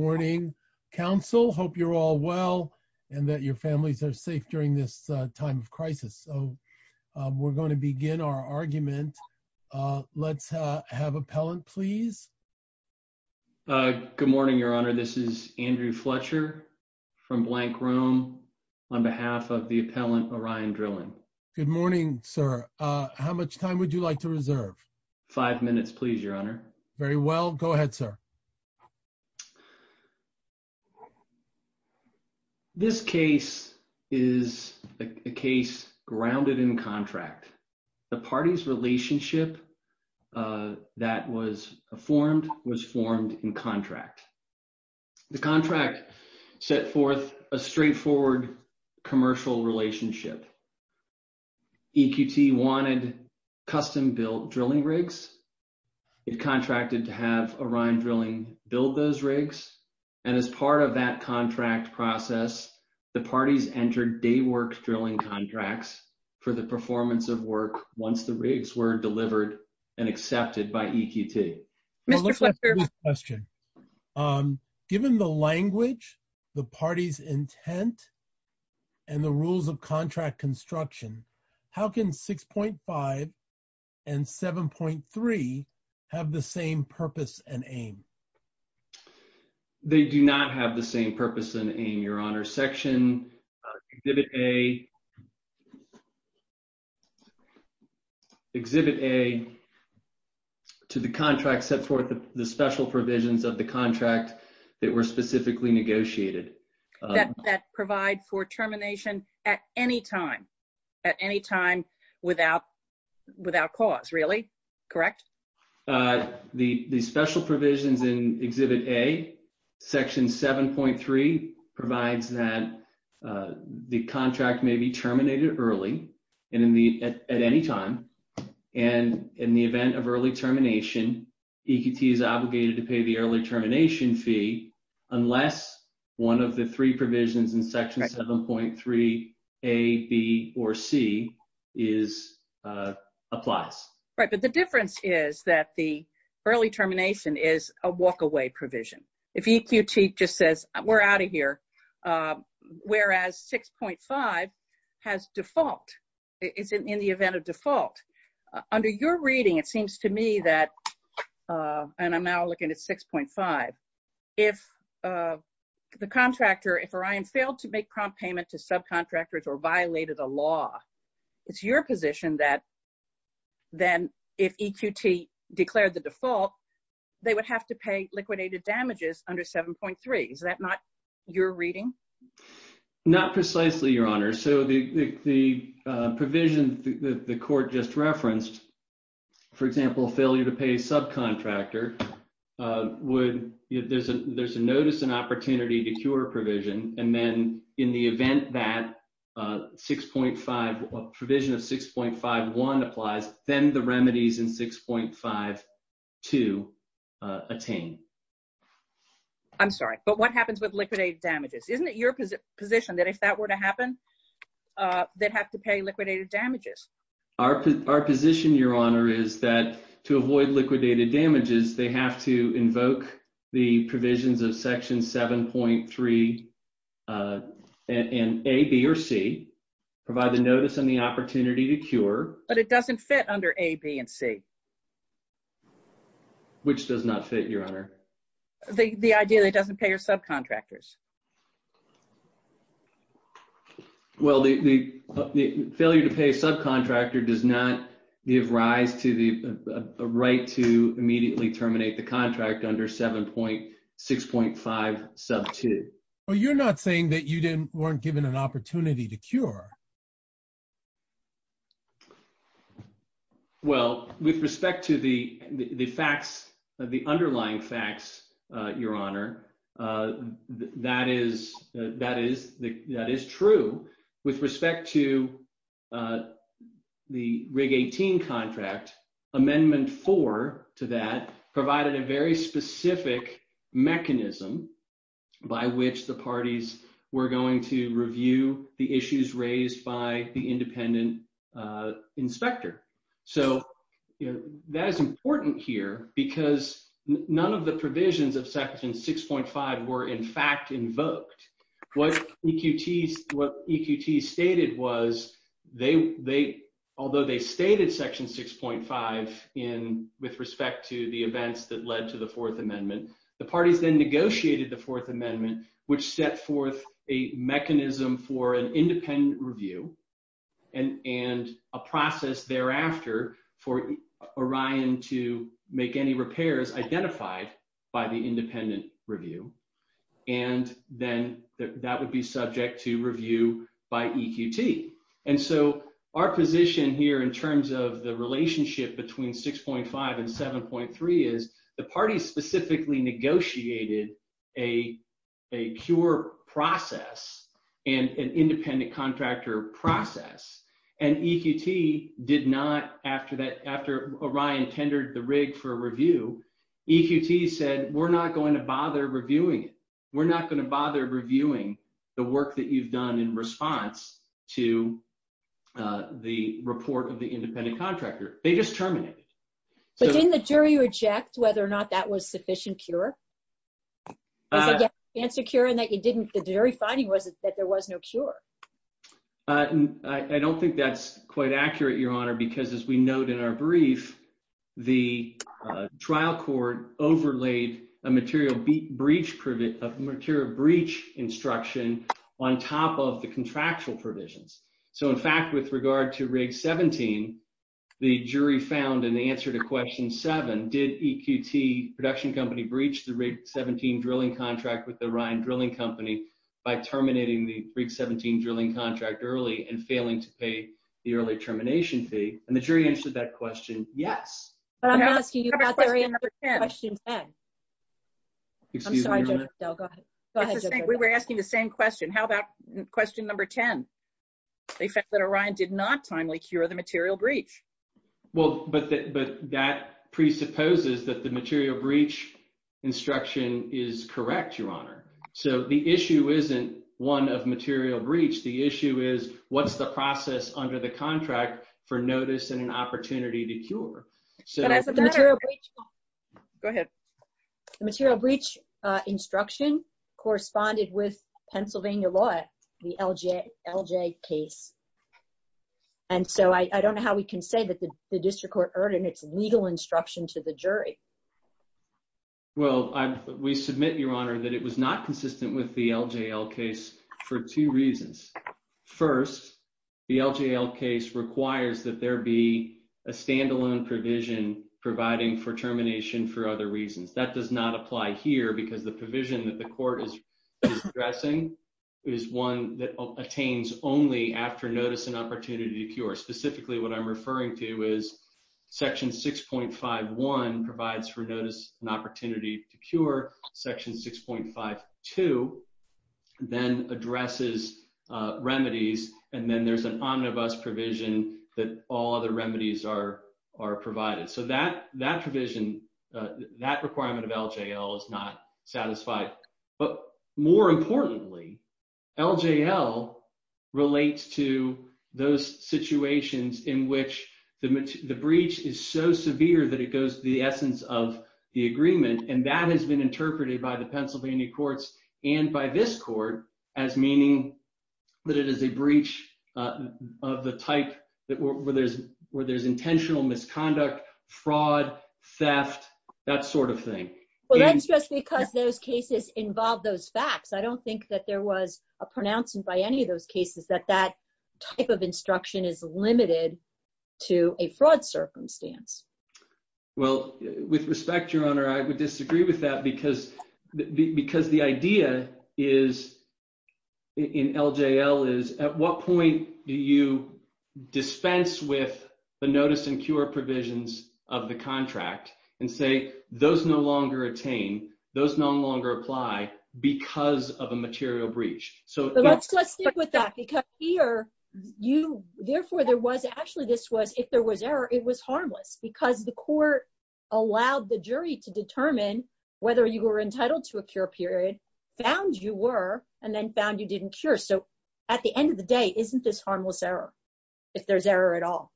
Good morning, counsel. Hope you're all well, and that your families are safe during this time of crisis. So we're going to begin our argument. Let's have appellant, please. Good morning, Your Honor. This is Andrew Fletcher from Blank Room, on behalf of the appellant, Orion Drilling. Good morning, sir. How much time would you like to reserve? Five minutes, please, Your Honor. Very well. Go ahead, sir. Okay. This case is a case grounded in contract. The party's relationship that was formed was formed in contract. The contract set forth a straightforward commercial relationship. EQT wanted custom-built drilling rigs. It contracted to have Orion build those rigs. And as part of that contract process, the parties entered day work drilling contracts for the performance of work once the rigs were delivered and accepted by EQT. Given the language, the party's intent, and the rules of contract construction, how can 6.5 and 7.3 have the same purpose and aim? They do not have the same purpose and aim, Your Honor. Section Exhibit A to the contract set forth the special provisions of the contract that were specifically negotiated. That provide for termination at any time? At any time without cause, really? Correct? The special provisions in Exhibit A, Section 7.3, provides that the contract may be terminated early and at any time. And in the event of early termination, EQT is obligated to pay the early fee unless one of the three provisions in Section 7.3, A, B, or C, applies. Right. But the difference is that the early termination is a walk-away provision. If EQT just says, we're out of here, whereas 6.5 has default. It's in the event of default. Under your reading, it seems to me that, and I'm now looking at 6.5, if the contractor, if Orion failed to make prompt payment to subcontractors or violated a law, it's your position that then if EQT declared the default, they would have to pay liquidated damages under 7.3. Is that not your reading? Not precisely, Your Honor. So the provision the court just referenced, for example, failure to pay a subcontractor, there's a notice and opportunity to cure a provision. And then in the event that provision of 6.51 applies, then the remedies in 6.52 attain. I'm sorry, but what happens with liquidated damages? Isn't it your position that if that Our position, Your Honor, is that to avoid liquidated damages, they have to invoke the provisions of Section 7.3 and A, B, or C, provide the notice and the opportunity to cure. But it doesn't fit under A, B, and C. Which does not fit, Your Honor? The idea that it doesn't pay your subcontractors. Well, the failure to pay a subcontractor does not give rise to the right to immediately terminate the contract under 7.6.5, sub 2. But you're not saying that you weren't given an opportunity to cure. Well, with respect to the underlying facts, Your Honor, that is true. With respect to the RIG-18 contract, Amendment 4 to that provided a very specific mechanism by which the parties were going to review the issues raised by the independent inspector. So that is important here because none of the provisions of Section 6.5 were, in fact, invoked. What EQTs stated was, although they stated Section 6.5 with respect to the events that led to the 4th Amendment, which set forth a mechanism for an independent review and a process thereafter for Orion to make any repairs identified by the independent review. And then that would be subject to review by EQT. And so our position here in terms of the relationship between 6.5 and 7.3 is the parties specifically negotiated a cure process and an independent contractor process. And EQT did not, after Orion tendered the RIG for review, EQT said, we're not going to bother reviewing it. We're not going to bother reviewing the work that you've done in response to the report of the independent contractor. They just terminated. But didn't the jury reject whether or not that was sufficient cure? The jury finding was that there was no cure. I don't think that's quite accurate, Your Honor, because as we note in our brief, the trial court overlaid a material breach instruction on top of the contractual provisions. So, in fact, with regard to RIG 17, the jury found in the answer to question 7, did EQT production company breach the RIG 17 drilling contract with the Orion drilling company by terminating the RIG 17 drilling contract early and failing to pay the early termination fee? And the jury answered that question, yes. But I'm asking you about the question 10. I'm sorry, Go ahead. We were asking the same question. How about question number 10? They found that Orion did not timely cure the material breach. Well, but that presupposes that the material breach instruction is correct, Your Honor. So the issue isn't one of material breach. The issue is, what's the process under the contract for notice and an opportunity to cure? Go ahead. The material breach instruction corresponded with Pennsylvania law, the LJL case. And so I don't know how we can say that the district court earned its legal instruction to the jury. Well, we submit, Your Honor, that it was not consistent with the LJL case for two reasons. First, the LJL case requires that there be a standalone provision providing for termination for other reasons. That does not apply here because the provision that the court is addressing is one that attains only after notice and opportunity to cure. Specifically, what I'm referring to is section 6.51 provides for notice and opportunity to cure. Section 6.52 then addresses remedies. And then there's an omnibus provision that all other remedies are provided. So that provision, that requirement of LJL is not satisfied. But more importantly, LJL relates to those situations in which the breach is so severe that it goes to the essence of the agreement. And that has been interpreted by the Pennsylvania courts and by this court as meaning that it is a breach of the type where there's intentional misconduct, fraud, theft, that sort of thing. Well, that's just because those cases involve those facts. I don't think that there was a pronouncement by any of those cases that that type of instruction is limited to a fraud circumstance. Well, with respect, Your Honor, I would disagree with that because the idea is, in LJL is, at what point do you dispense with the notice and cure provisions of the contract and say, those no longer attain, those no longer apply because of a material breach? So let's stick with that because here, therefore, there was actually this was, if there was error, it was harmless because the court allowed the jury to determine whether you were entitled to a cure period, found you were, and then found you didn't cure. So at the end of the day, isn't this harmless error, if there's error at all?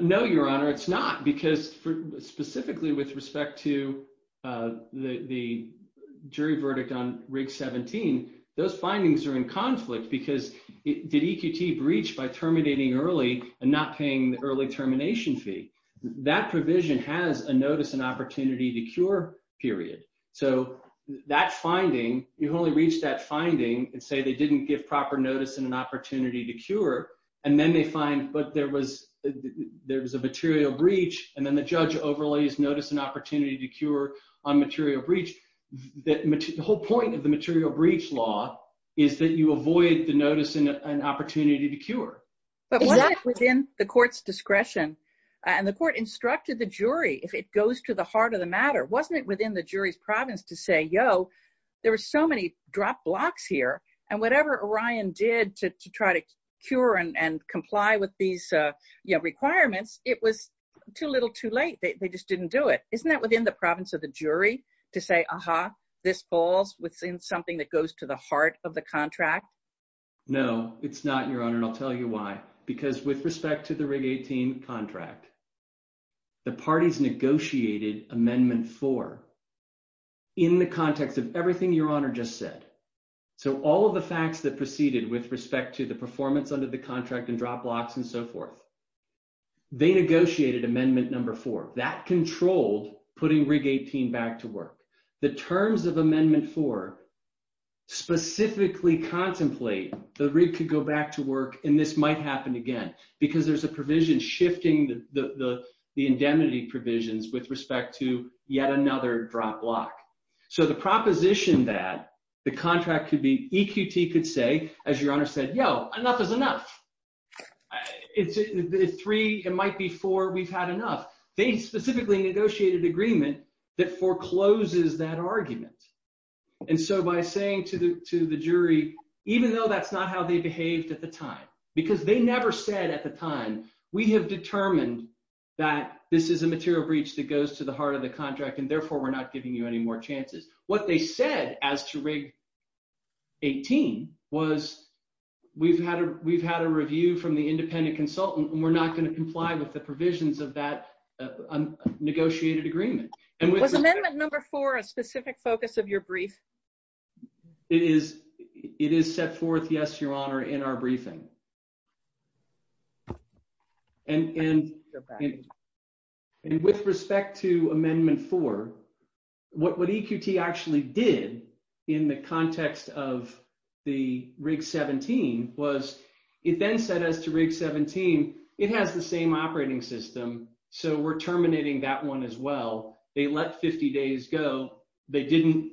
No, Your Honor, it's not because specifically with respect to the jury verdict on Rig 17, those findings are in conflict because did EQT breach by terminating early and not paying the termination fee. That provision has a notice and opportunity to cure period. So that finding, you've only reached that finding and say they didn't give proper notice and an opportunity to cure and then they find, but there was a material breach and then the judge overlays notice and opportunity to cure on material breach. The whole point of the material breach law is that you avoid the notice and opportunity to cure. But wasn't it within the court's discretion and the court instructed the jury, if it goes to the heart of the matter, wasn't it within the jury's province to say, yo, there were so many drop blocks here and whatever Orion did to try to cure and comply with these requirements, it was too little too late. They just didn't do it. Isn't that within the province of the jury to say, aha, this falls within something that goes to the heart of the contract? No, it's not your honor. And I'll tell you why, because with respect to the rig 18 contract, the parties negotiated amendment four in the context of everything your honor just said. So all of the facts that proceeded with respect to the performance under the contract and drop blocks and so forth, they negotiated amendment number four that controlled putting rig 18 back to work. The terms of amendment four specifically contemplate the rig could go back to work and this might happen again, because there's a provision shifting the indemnity provisions with respect to yet another drop block. So the proposition that the contract could be EQT could say, as your honor said, yo, enough is enough. It's three, it might be four, we've had enough. They specifically negotiated agreement that forecloses that argument. And so by saying to the jury, even though that's not how they behaved at the time, because they never said at the time, we have determined that this is a material breach that goes to the heart of the contract and therefore we're not giving you any more chances. What they said as to rig 18 was, we've had a review from the independent consultant and we're not going to comply with the provisions of that negotiated agreement. Was amendment number four a specific focus of your brief? It is set forth, yes, your honor, in our briefing. And with respect to amendment four, what EQT actually did in the context of the rig 17 was it then said as to rig 17, it has the same operating system. So we're terminating that one as well. They let 50 days go. They didn't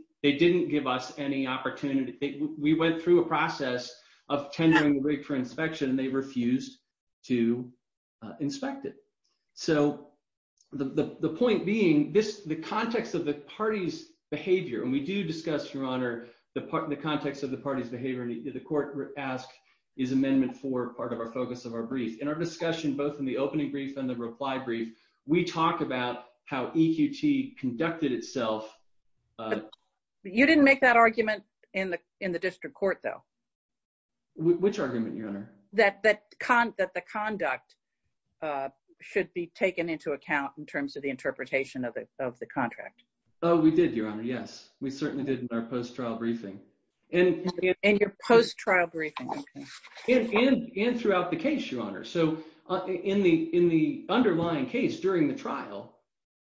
give us any opportunity. We went through a process of tendering the rig for inspection and they refused to inspect it. So the point being, the context of the party's behavior, and we do discuss, your honor, the context of the party's behavior and the court ask is amendment four, part of our focus of our brief and our discussion, both in the opening brief and the reply brief, we talk about how EQT conducted itself. You didn't make that argument in the district court though. Which argument, your honor? That the conduct should be taken into account in terms of the interpretation of the contract. Oh, we did, your honor. Yes, we certainly did in our post-trial briefing. And your post-trial briefing. And throughout the case, your honor. So in the underlying case during the trial,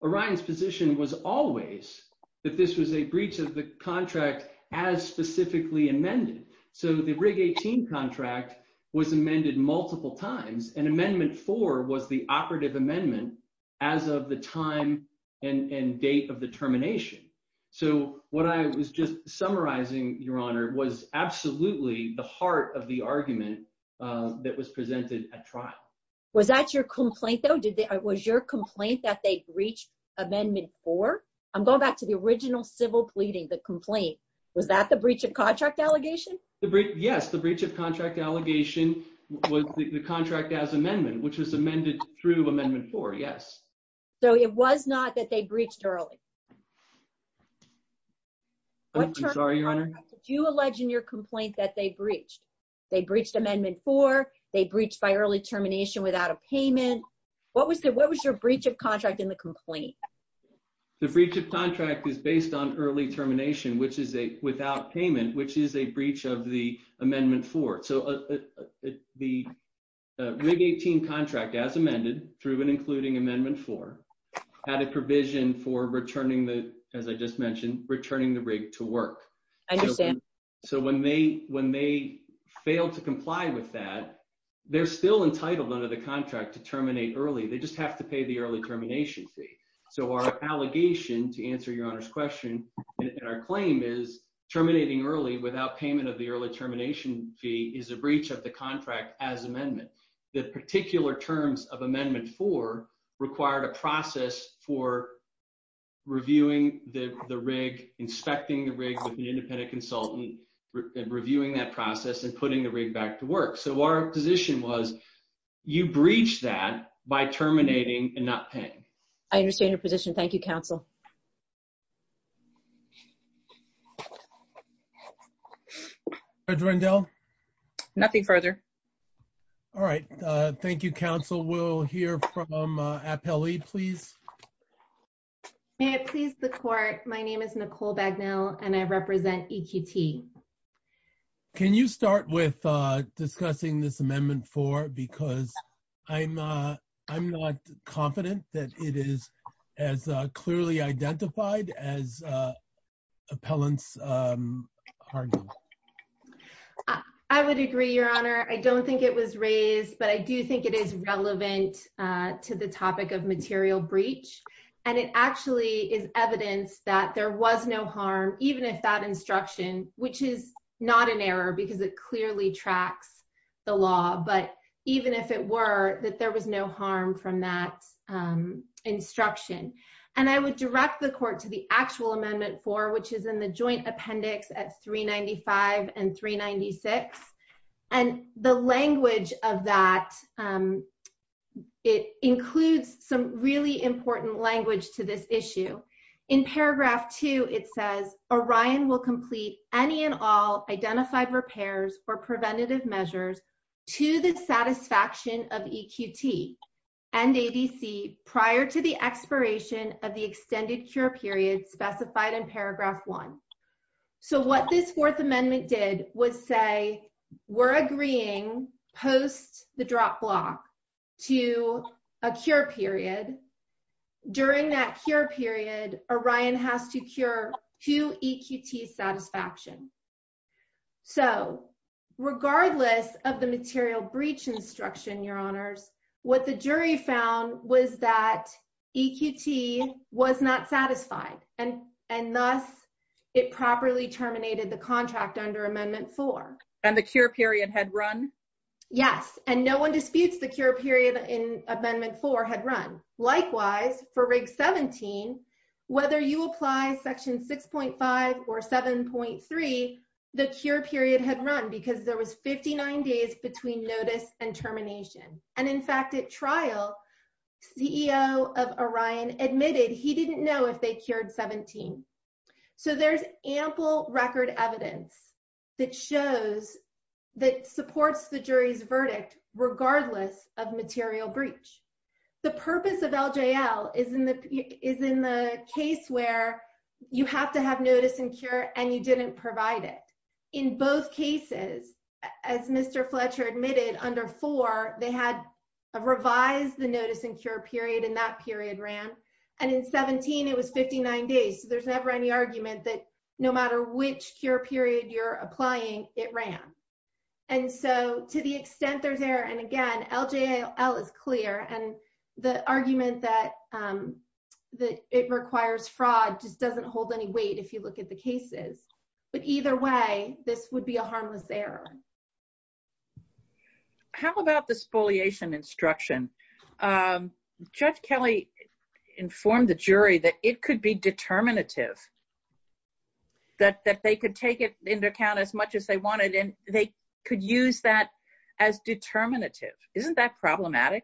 Orion's position was always that this was a breach of the contract as specifically amended. So the rig 18 contract was amended multiple times and amendment four was the operative amendment as of the time and date of the termination. So what I was just summarizing, your honor, was absolutely the heart of the argument that was presented at trial. Was that your complaint though? Was your complaint that they breached amendment four? I'm going back to the original civil pleading, the complaint. Was that the breach of contract allegation? Yes, the breach of contract allegation was the contract as amendment, which was amended through amendment four. Yes. So it was not that they breached early. Do you allege in your complaint that they breached? They breached amendment four. They breached by early termination without a payment. What was the, what was your breach of contract in the complaint? The breach of contract is based on early termination, which is a without payment, which is a breach of the amendment four. So the rig 18 contract as amended through and amendment four had a provision for returning the, as I just mentioned, returning the rig to work. I understand. So when they, when they failed to comply with that, they're still entitled under the contract to terminate early. They just have to pay the early termination fee. So our allegation to answer your honor's question and our claim is terminating early without payment of the early termination fee is a breach of the contract as amendment. The particular terms of amendment four required a process for reviewing the rig, inspecting the rig with an independent consultant, reviewing that process and putting the rig back to work. So our position was you breach that by terminating and not paying. I understand your position. Thank you. Counsel. Nothing further. All right. Thank you. Council. We'll hear from appellee, please. May I please the court. My name is Nicole Bagnell and I represent EQT. Can you start with discussing this amendment for, because I'm, I'm not confident that it is as clearly identified as appellants. I would agree your honor. I don't think it was raised, but I do think it is relevant to the topic of material breach. And it actually is evidence that there was no harm, even if that instruction, which is not an error because it clearly tracks the law, but even if it were that there was no harm from that instruction. And I would direct the court to the actual amendment for, which is in the joint appendix at three 95 and three 96. And the language of that, it includes some really important language to this issue in paragraph two, it says Orion will any and all identified repairs or preventative measures to the satisfaction of EQT and ADC prior to the expiration of the extended cure period specified in paragraph one. So what this fourth amendment did was say we're agreeing post the drop block to a cure period. During that cure period, Orion has to cure to EQT satisfaction. So regardless of the material breach instruction, your honors, what the jury found was that EQT was not satisfied. And, and thus, it properly terminated the contract under amendment for, and the cure period had run. Yes. And no one disputes the cure period in amendment four had run. Likewise for rig 17, whether you apply section 6.5 or 7.3, the cure period had run because there was 59 days between notice and termination. And in fact, at trial, CEO of Orion admitted he didn't know if they cured 17. So there's ample record evidence that shows that supports the jury's verdict, regardless of material breach. The purpose of LJL is in the, is in the case where you have to have notice and cure and you didn't provide it in both cases, as Mr. Fletcher admitted under four, they had a revised the notice and cure period in that period ran. And in 17, it was 59 days. So there's never any argument that no matter which cure period you're applying, it ran. And so to the extent there's error, and again, LJL is clear and the argument that, um, that it requires fraud just doesn't hold any weight if you look at the cases, but either way, this would be a harmless error. How about the spoliation instruction? Um, Judge Kelly informed the jury that it could be determinative, that they could take it into account as much as they wanted, and they could use that as determinative. Isn't that problematic?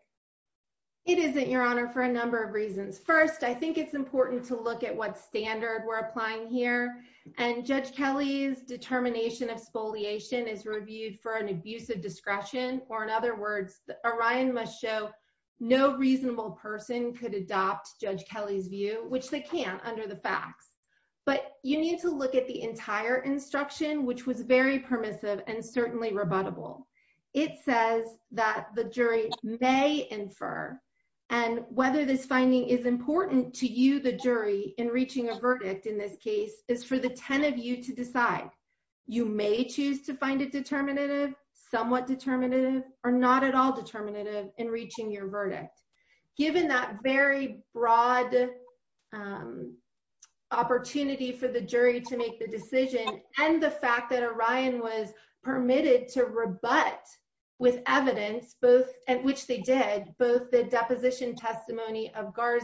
It isn't, Your Honor, for a number of reasons. First, I think it's important to look at what standard we're applying here. And Judge Kelly's determination of spoliation is reviewed for an abusive discretion, or in other words, Orion must show no reasonable person could adopt Judge Kelly's view, which they can't under the facts. But you need to look at the entire instruction, which was very permissive and certainly rebuttable. It says that the jury may infer, and whether this finding is important to you, the jury, in reaching a verdict in this case, is for the 10 of you to decide. You may choose to find it determinative, somewhat determinative, or not at all determinative in reaching your verdict. Given that very broad, um, opportunity for the jury to make the decision, and the fact that Orion was permitted to rebut with evidence, both, and which they did, both the deposition testimony of But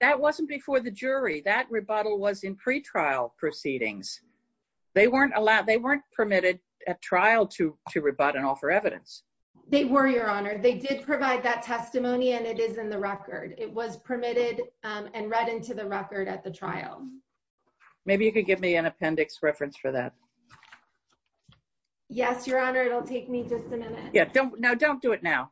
that wasn't before the jury. That rebuttal was in pre-trial proceedings. They weren't allowed, they weren't permitted at trial to rebut and offer evidence. They were, Your Honor. They did provide that testimony, and it is in the record. It was permitted and read into the record at the trial. Maybe you could give me an appendix reference for that. Yes, Your Honor, it'll take me just a minute. Yeah, don't, no, don't do it now.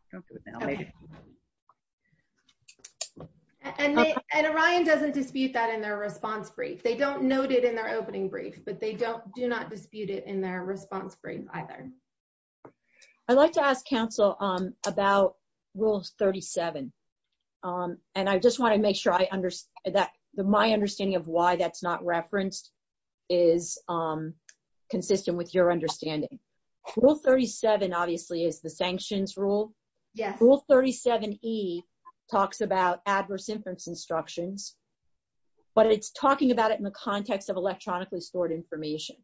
And Orion doesn't dispute that in their response brief. They don't note it in their opening brief, but they don't, do not dispute it in their response brief either. I'd like to ask counsel, um, about Rule 37, um, and I just want to make sure I understand that my understanding of why that's not referenced is, um, consistent with your understanding. Rule 37, obviously, is the sanctions rule. Yes. Rule 37E talks about adverse inference instructions, but it's talking about it in the context of electronically stored information,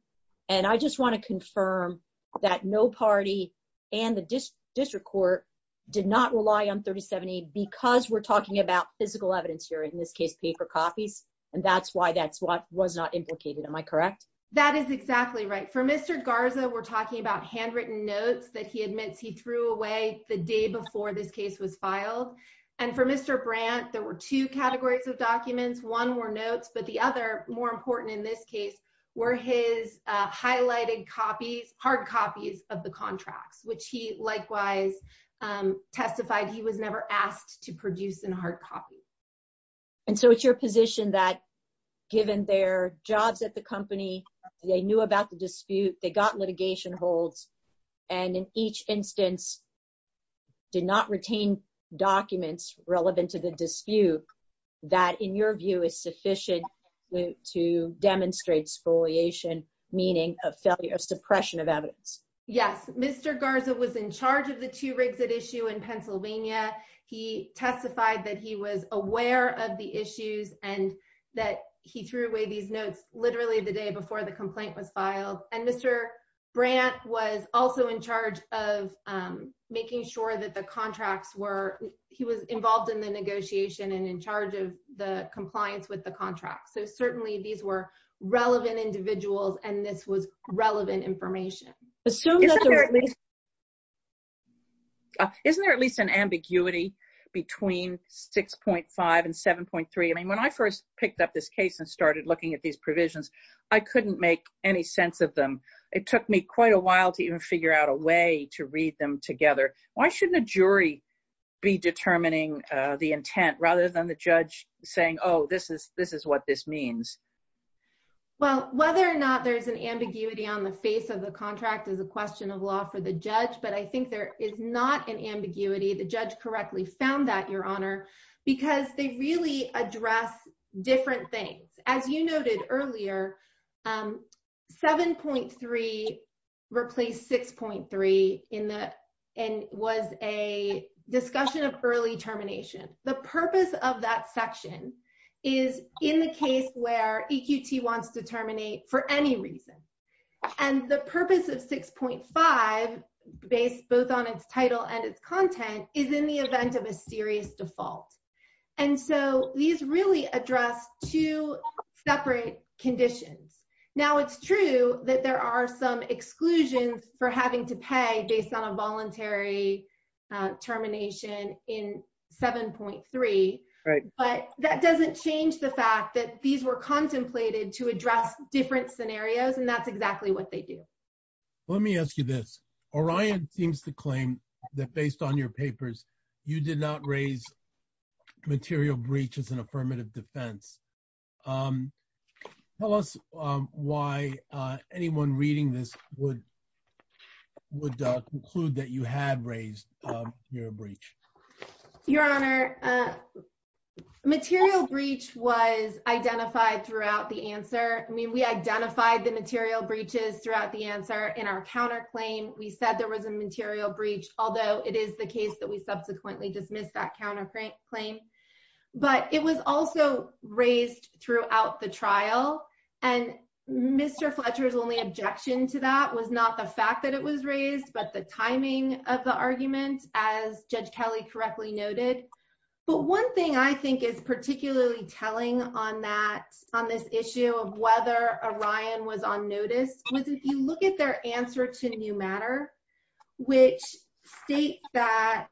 and I just want to confirm that no party and the district court did not rely on 37E because we're talking about physical evidence here, in this case, paper copies, and that's why that's what handwritten notes that he admits he threw away the day before this case was filed, and for Mr. Brandt, there were two categories of documents. One were notes, but the other, more important in this case, were his, uh, highlighted copies, hard copies of the contracts, which he likewise, um, testified he was never asked to produce in hard copy. And so it's your position that given their jobs at the company, they knew about the dispute, they got litigation holds, and in each instance did not retain documents relevant to the dispute that, in your view, is sufficient to demonstrate spoliation, meaning of failure, of suppression of evidence. Yes. Mr. Garza was in charge of the two-rigs-it issue in Pennsylvania. He testified that he was aware of the issues and that he threw away these notes literally the day before the complaint was filed, and Mr. Brandt was also in charge of, um, making sure that the contracts were-he was involved in the negotiation and in charge of the compliance with the contract, so certainly these were relevant individuals and this was relevant information. Isn't there at least an ambiguity between 6.5 and 7.3? I mean, when I first picked up this case and started looking at these provisions, I couldn't make any sense of them. It took me quite a while to even figure out a way to read them together. Why shouldn't a jury be determining, uh, the intent rather than the judge saying, oh, this is-this is what this means? Well, whether or not there's an ambiguity on the face of the contract is a question of law for the judge, but I think there is not an ambiguity. The judge correctly found that, Your Honor, because they really address different things. As you noted earlier, um, 7.3 replaced 6.3 in the-and was a discussion of early termination. The purpose of that section is in the case where EQT wants to terminate for any reason, and the purpose of 6.5, based both on its title and its content, is in the event of a serious default, and so these really address two separate conditions. Now, it's true that there are some exclusions for having to pay based on a voluntary, uh, termination in 7.3, but that doesn't change the fact that these were contemplated to address different scenarios, and that's exactly what they do. Let me ask you this. Orion seems to claim that, based on your papers, you did not raise material breach as an affirmative defense. Um, tell us, um, why, uh, anyone reading this would- would, uh, conclude that you had raised, um, your breach. Your Honor, uh, material breach was our counterclaim. We said there was a material breach, although it is the case that we subsequently dismissed that counterclaim, but it was also raised throughout the trial, and Mr. Fletcher's only objection to that was not the fact that it was raised, but the timing of the argument, as Judge Kelly correctly noted, but one thing I think is particularly telling on that, on this issue of whether Orion was on notice, was if you look at their answer to new matter, which state that-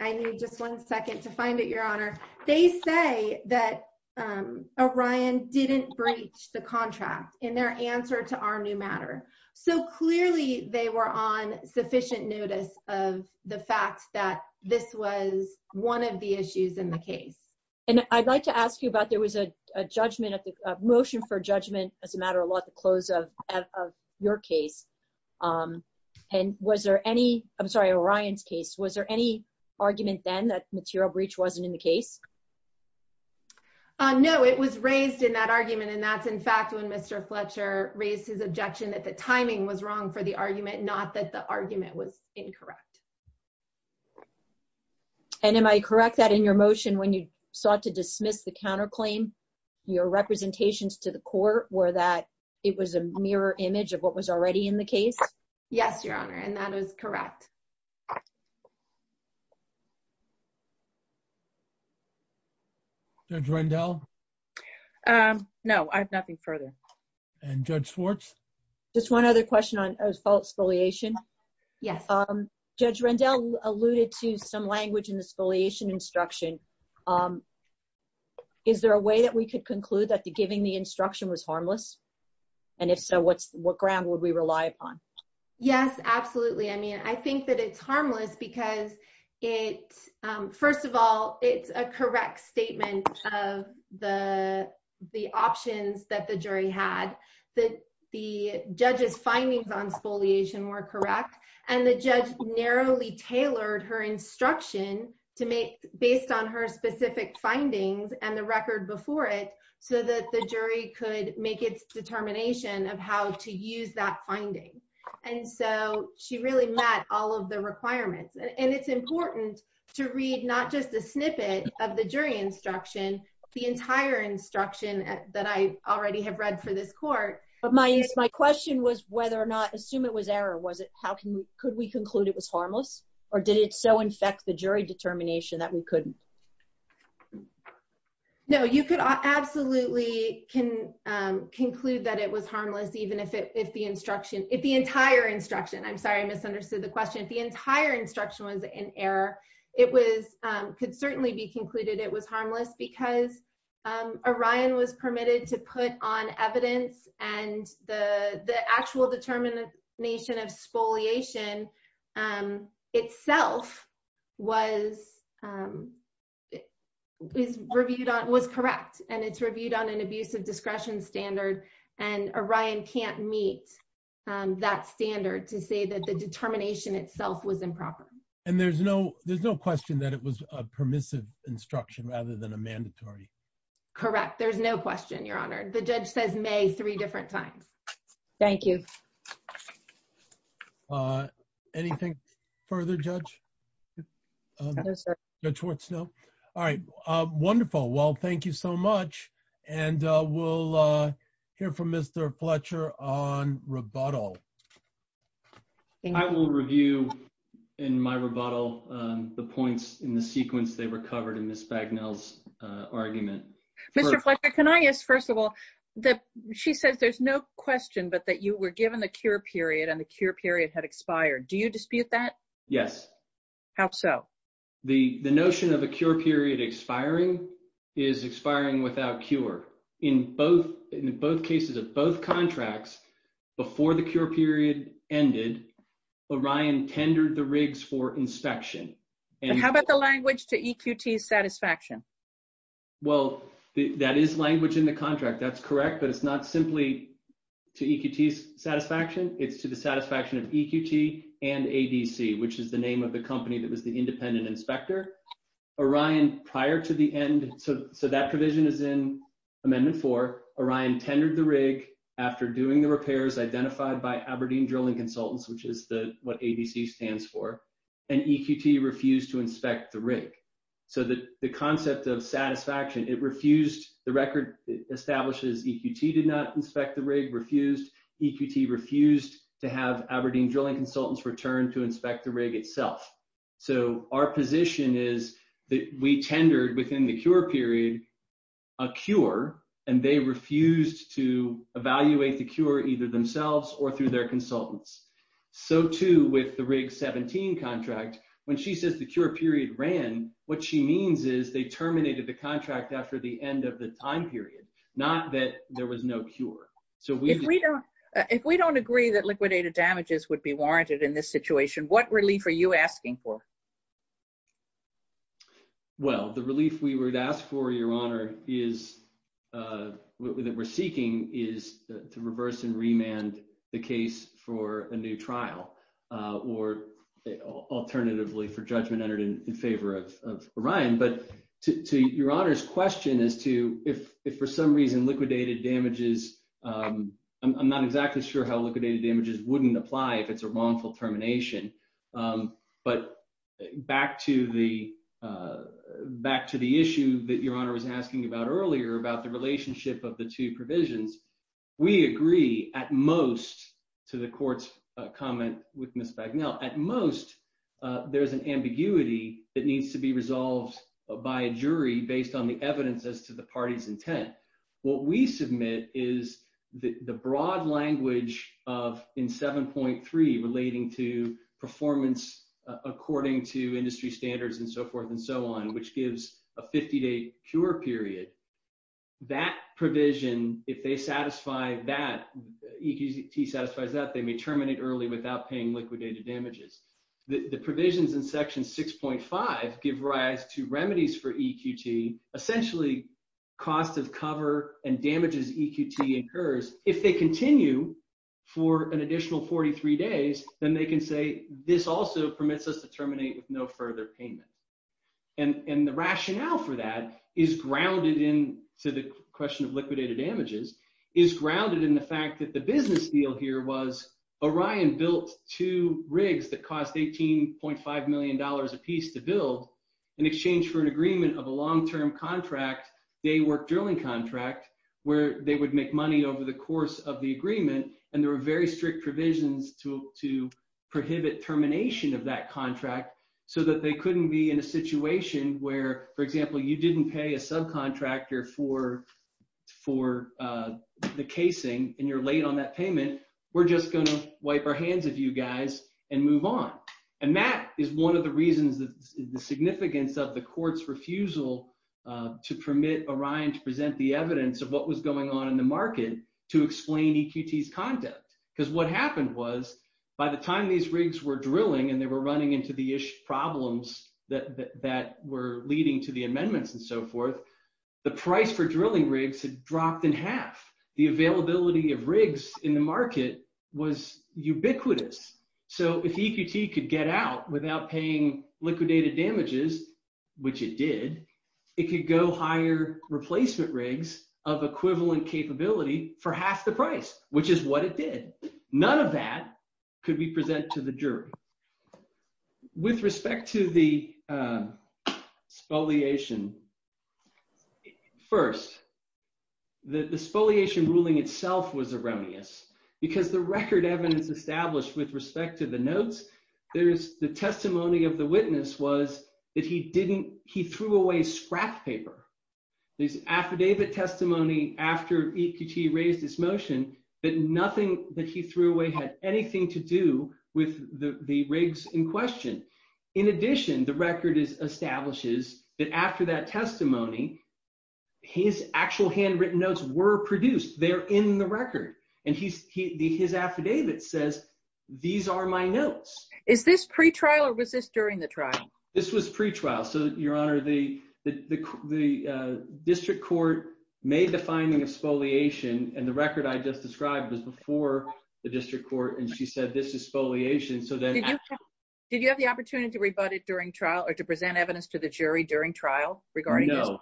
I need just one second to find it, Your Honor. They say that, um, Orion didn't breach the contract in their answer to our new matter, so clearly they were on sufficient notice of the fact that this was one of the issues in the case. And I'd like to ask you about, there was a judgment at the- motion for judgment as a matter of law to close of- of your case, um, and was there any- I'm sorry, Orion's case, was there any argument then that material breach wasn't in the case? Uh, no, it was raised in that argument, and that's, in fact, when Mr. Fletcher raised his objection that the timing was wrong for the argument, not that the argument was incorrect. And am I correct that in your motion, when you sought to dismiss the counterclaim, your representations to the court were that it was a mirror image of what was already in the case? Yes, Your Honor, and that was correct. Judge Rendell? Um, no, I have nothing further. And Judge Schwartz? Just one other question on spoliation. Yes. Um, Judge Rendell alluded to some language in the spoliation instruction. Um, is there a way that we could conclude that the- giving the instruction was harmless? And if so, what's- what ground would we rely upon? Yes, absolutely. I mean, I think that it's harmless because it- first of all, it's a correct statement of the- the options that the jury had, that the judge's findings on spoliation were correct, and the judge narrowly tailored her instruction to make- based on her specific findings and the record before it, so that the jury could make its determination of how to use that finding. And so, she really met all of the requirements. And it's important to read not just a snippet of the jury instruction, the entire instruction that I already have read for this court. But my- my question was whether or not- assume it was error, was it- how can we- could we conclude it was harmless? Or did it so infect the jury determination that we couldn't? No, you could absolutely can, um, conclude that it was harmless even if it- if the instruction- if the entire instruction- I'm sorry, I misunderstood the question. If the entire instruction was in error, it was- could certainly be concluded it was harmless because, um, Orion was permitted to put on evidence and the- the actual determination of spoliation, um, itself was, um, is reviewed on- was correct. And it's reviewed on an abusive discretion standard. And Orion can't meet, um, that standard to say that the determination itself was improper. And there's no- there's no question that it was a permissive instruction rather than a mandatory? Correct. There's no question, Your Honor. The judge says may three different times. Thank you. Uh, anything further, Judge? No, sir. Judge Hortz, no? All right, uh, thank you so much. And, uh, we'll, uh, hear from Mr. Fletcher on rebuttal. I will review in my rebuttal, um, the points in the sequence they recovered in Ms. Bagnell's, uh, argument. Mr. Fletcher, can I ask, first of all, that she says there's no question but that you were given a cure period and the cure period had expired. Do you dispute that? Yes. How so? The, the notion of a cure period expiring is expiring without cure. In both, in both cases of both contracts, before the cure period ended, Orion tendered the rigs for inspection. And how about the language to EQT satisfaction? Well, that is language in the contract. That's correct. But it's not simply to EQT's satisfaction. It's to the satisfaction of EQT and ADC, which is the name of the company that was the independent inspector. Orion, prior to the end, so, so that provision is in Amendment 4, Orion tendered the rig after doing the repairs identified by Aberdeen Drilling Consultants, which is the, what ADC stands for, and EQT refused to inspect the rig. So the, the concept of satisfaction, it refused, the record establishes EQT did not inspect the rig, refused, EQT refused to have Aberdeen Drilling Consultants return to inspect the rig itself. So our position is that we tendered within the cure period a cure, and they refused to evaluate the cure either themselves or through their consultants. So too with the rig 17 contract, when she says the cure period ran, what she means is they terminated the contract after the end of the time period, not that there was no cure. So if we don't, if we don't agree that liquidated damages would be warranted in this situation, what relief are you asking for? Well, the relief we would ask for, Your Honor, is, that we're seeking is to reverse and remand the case for a new trial or alternatively for judgment entered in favor of, of Orion. But to, to Your Honor's question as to if, if for some reason liquidated damages, I'm not exactly sure how liquidated damages wouldn't apply if it's a wrongful termination. But back to the, back to the issue that Your Honor was asking about earlier about the relationship of the two provisions, we agree at most to the court's comment with Ms. Bagnell, at most there's an ambiguity that needs to be resolved by a jury based on the party's intent. What we submit is the broad language of in 7.3 relating to performance according to industry standards and so forth and so on, which gives a 50 day cure period. That provision, if they satisfy that, EQT satisfies that, they may terminate early without paying liquidated damages. The provisions in section 6.5 give rise to remedies for EQT, essentially cost of cover and damages EQT incurs. If they continue for an additional 43 days, then they can say, this also permits us to terminate with no further payment. And, and the rationale for that is grounded in, to the question of liquidated damages, is grounded in the fact that the business deal here was Orion built two rigs that cost $18.5 million a piece to build in exchange for an agreement of a long-term contract, day work drilling contract, where they would make money over the course of the agreement. And there were very strict provisions to prohibit termination of that contract so that they couldn't be in a situation where, for example, you didn't pay a subcontractor for the casing and you're late on that payment. We're just going to wipe our hands of you guys and move on. And that is one of the reasons that the significance of the court's refusal to permit Orion to present the evidence of what was going on in the market to explain EQT's conduct. Because what happened was by the time these rigs were drilling and they were running into the ish problems that were leading to the amendments and so forth, the price for drilling rigs had without paying liquidated damages, which it did, it could go hire replacement rigs of equivalent capability for half the price, which is what it did. None of that could be present to the jury. With respect to the spoliation, first, the spoliation ruling itself was erroneous because the record evidence established with respect to the notes, the testimony of the witness was that he threw away scrap paper. There's affidavit testimony after EQT raised his motion, but nothing that he threw away had anything to do with the rigs in question. In addition, the record establishes that after that testimony, his actual handwritten notes were produced. They're in the record. And his affidavit says, these are my notes. Is this pre-trial or was this during the trial? This was pre-trial. So your honor, the district court made the finding of spoliation and the record I just described was before the district court. And she said, this is spoliation. So then did you have the opportunity to rebut it during trial or to present evidence to the jury during trial? No,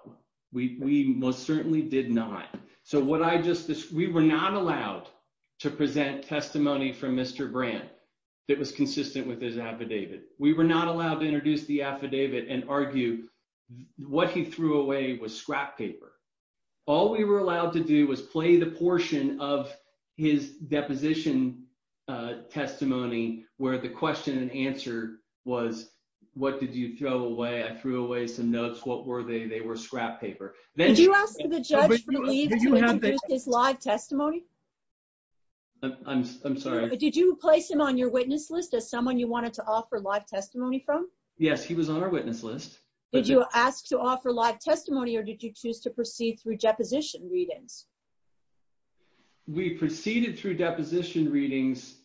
we most certainly did not. So what I just, we were not allowed to present testimony from Mr. Brand that was consistent with his affidavit. We were not allowed to introduce the affidavit and argue what he threw away was scrap paper. All we were allowed to do was play the portion of his deposition testimony where the question and answer was, what did you throw away? I threw away some notes. What were they? They were scrap paper. Did you ask the judge for leave to introduce his live testimony? I'm sorry. Did you place him on your witness list as someone you wanted to offer live testimony from? Yes, he was on our witness list. Did you ask to offer live testimony or did you choose to proceed through deposition readings? We proceeded through deposition readings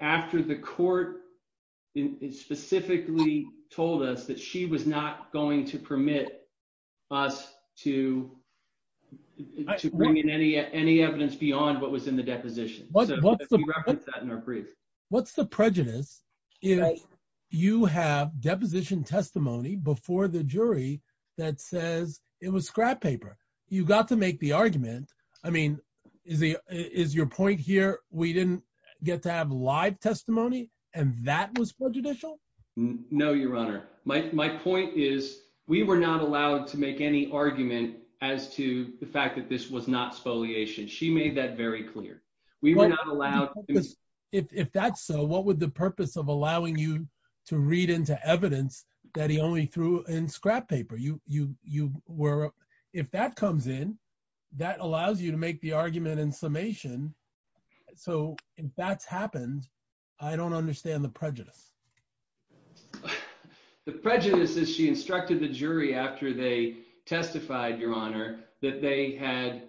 after the court specifically told us that she was not going to permit us to bring in any evidence beyond what was in the deposition. So we referenced that in our brief. What's the prejudice if you have deposition testimony before the jury that says it was scrap paper? You got to make the argument. I mean, is your point here we didn't get to have live testimony and that was prejudicial? No, your honor. My point is we were not allowed to make any argument as to the fact that this was not spoliation. She made that very clear. We were not allowed. If that's so, what would the purpose of allowing you to read into evidence that he only threw in scrap paper? If that comes in, that allows you to make the argument in summation. So if that's happened, I don't understand the prejudice. The prejudice is she instructed the jury after they testified, your honor, that they had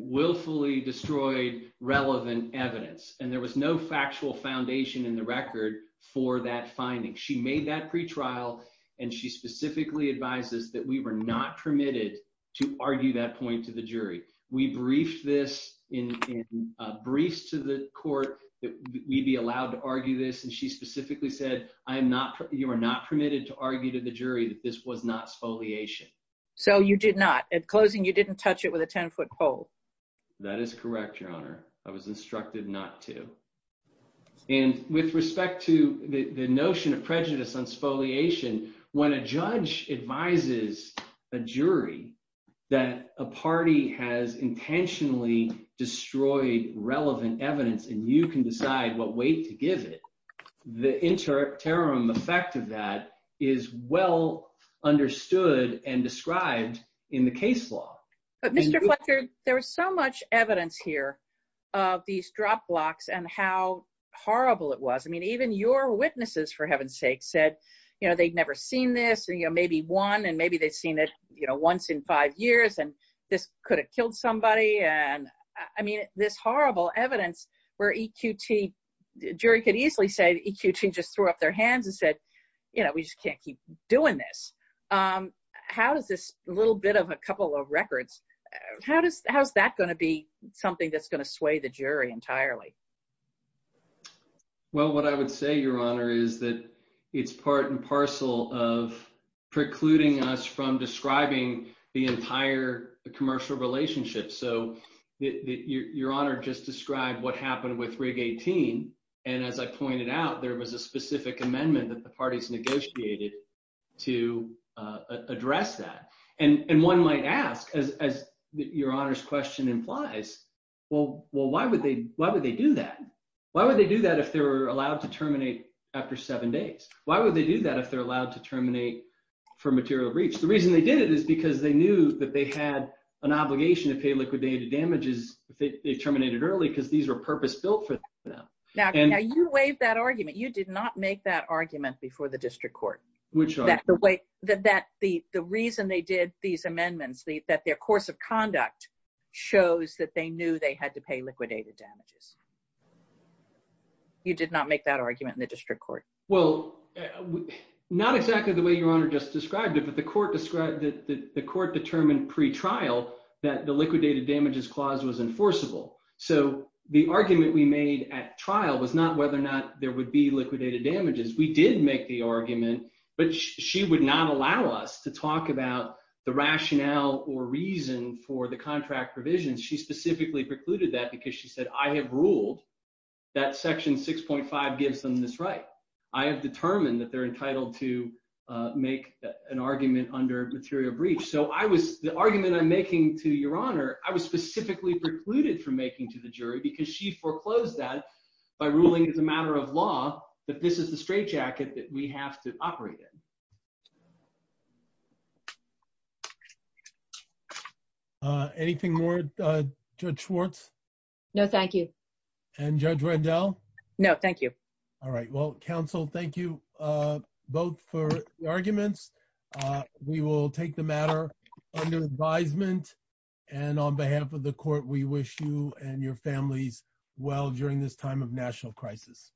willfully destroyed relevant evidence and there was no factual foundation in the record for that finding. She made that pretrial and she specifically advises that we were not permitted to argue that point to the jury. We briefed this in briefs to the court that we'd be allowed to argue this and she specifically said, you are not permitted to argue to the jury that this was not spoliation. So you did not. At closing, you didn't touch it with a 10-foot pole. That is correct, your honor. I was instructed not to. And with respect to the notion of prejudice on spoliation, when a judge advises a jury that a party has intentionally destroyed relevant evidence and you can decide what weight to give it, the interim effect of that is well understood and described in the case law. But Mr. Fletcher, there was so much evidence here of these drop locks and how horrible it was. I mean, even your witnesses, for heaven's sake, said, you know, they'd never seen this and, you know, maybe one and maybe they'd seen it, you know, once in five years and this could have killed somebody. And I mean, this horrible evidence where EQT, jury could easily say EQT just threw up their hands and said, you know, we just can't keep doing this. How does this little bit of a couple of records, how's that going to be something that's going to sway the jury entirely? Well, what I would say, your honor, is that it's part and parcel of precluding us from describing the entire commercial relationship. So your honor just described what happened with rig 18. And as I pointed out, there was a specific amendment that the parties negotiated to address that. And one might ask, as your honor's question implies, well, why would they do that? Why would they do that if they were allowed to terminate after seven days? Why would they do that if they're allowed to terminate for material breach? The reason they did it is because they knew that they had an obligation to pay liquidated damages if they terminated early because these were purpose-built for them. Now you waived that argument. You did not make that argument before the district court. Which argument? That the reason they did these amendments, that their course of conduct shows that they knew they had to pay liquidated damages. You did not make that argument in the district court. Well, not exactly the way your honor just described it, but the court described that the court determined pre-trial that the liquidated damages clause was enforceable. So the argument we made at trial was not whether or not there would be liquidated damages. We did make the argument, but she would not allow us to talk about the rationale or reason for the contract provisions. She specifically precluded that because she said, I have ruled that section 6.5 gives them this right. I have determined that they're entitled to make an argument under material breach. So the argument I'm making to your honor, I was specifically precluded from making to the jury because she foreclosed that by ruling as a matter of law that this is the straitjacket that we have to operate in. Uh, anything more, uh, Judge Schwartz? No, thank you. And Judge Rendell? No, thank you. All right. Well, counsel, thank you, uh, both for the arguments. Uh, we will take the matter under advisement and on behalf of the court, we wish you and your families well during this time of national crisis.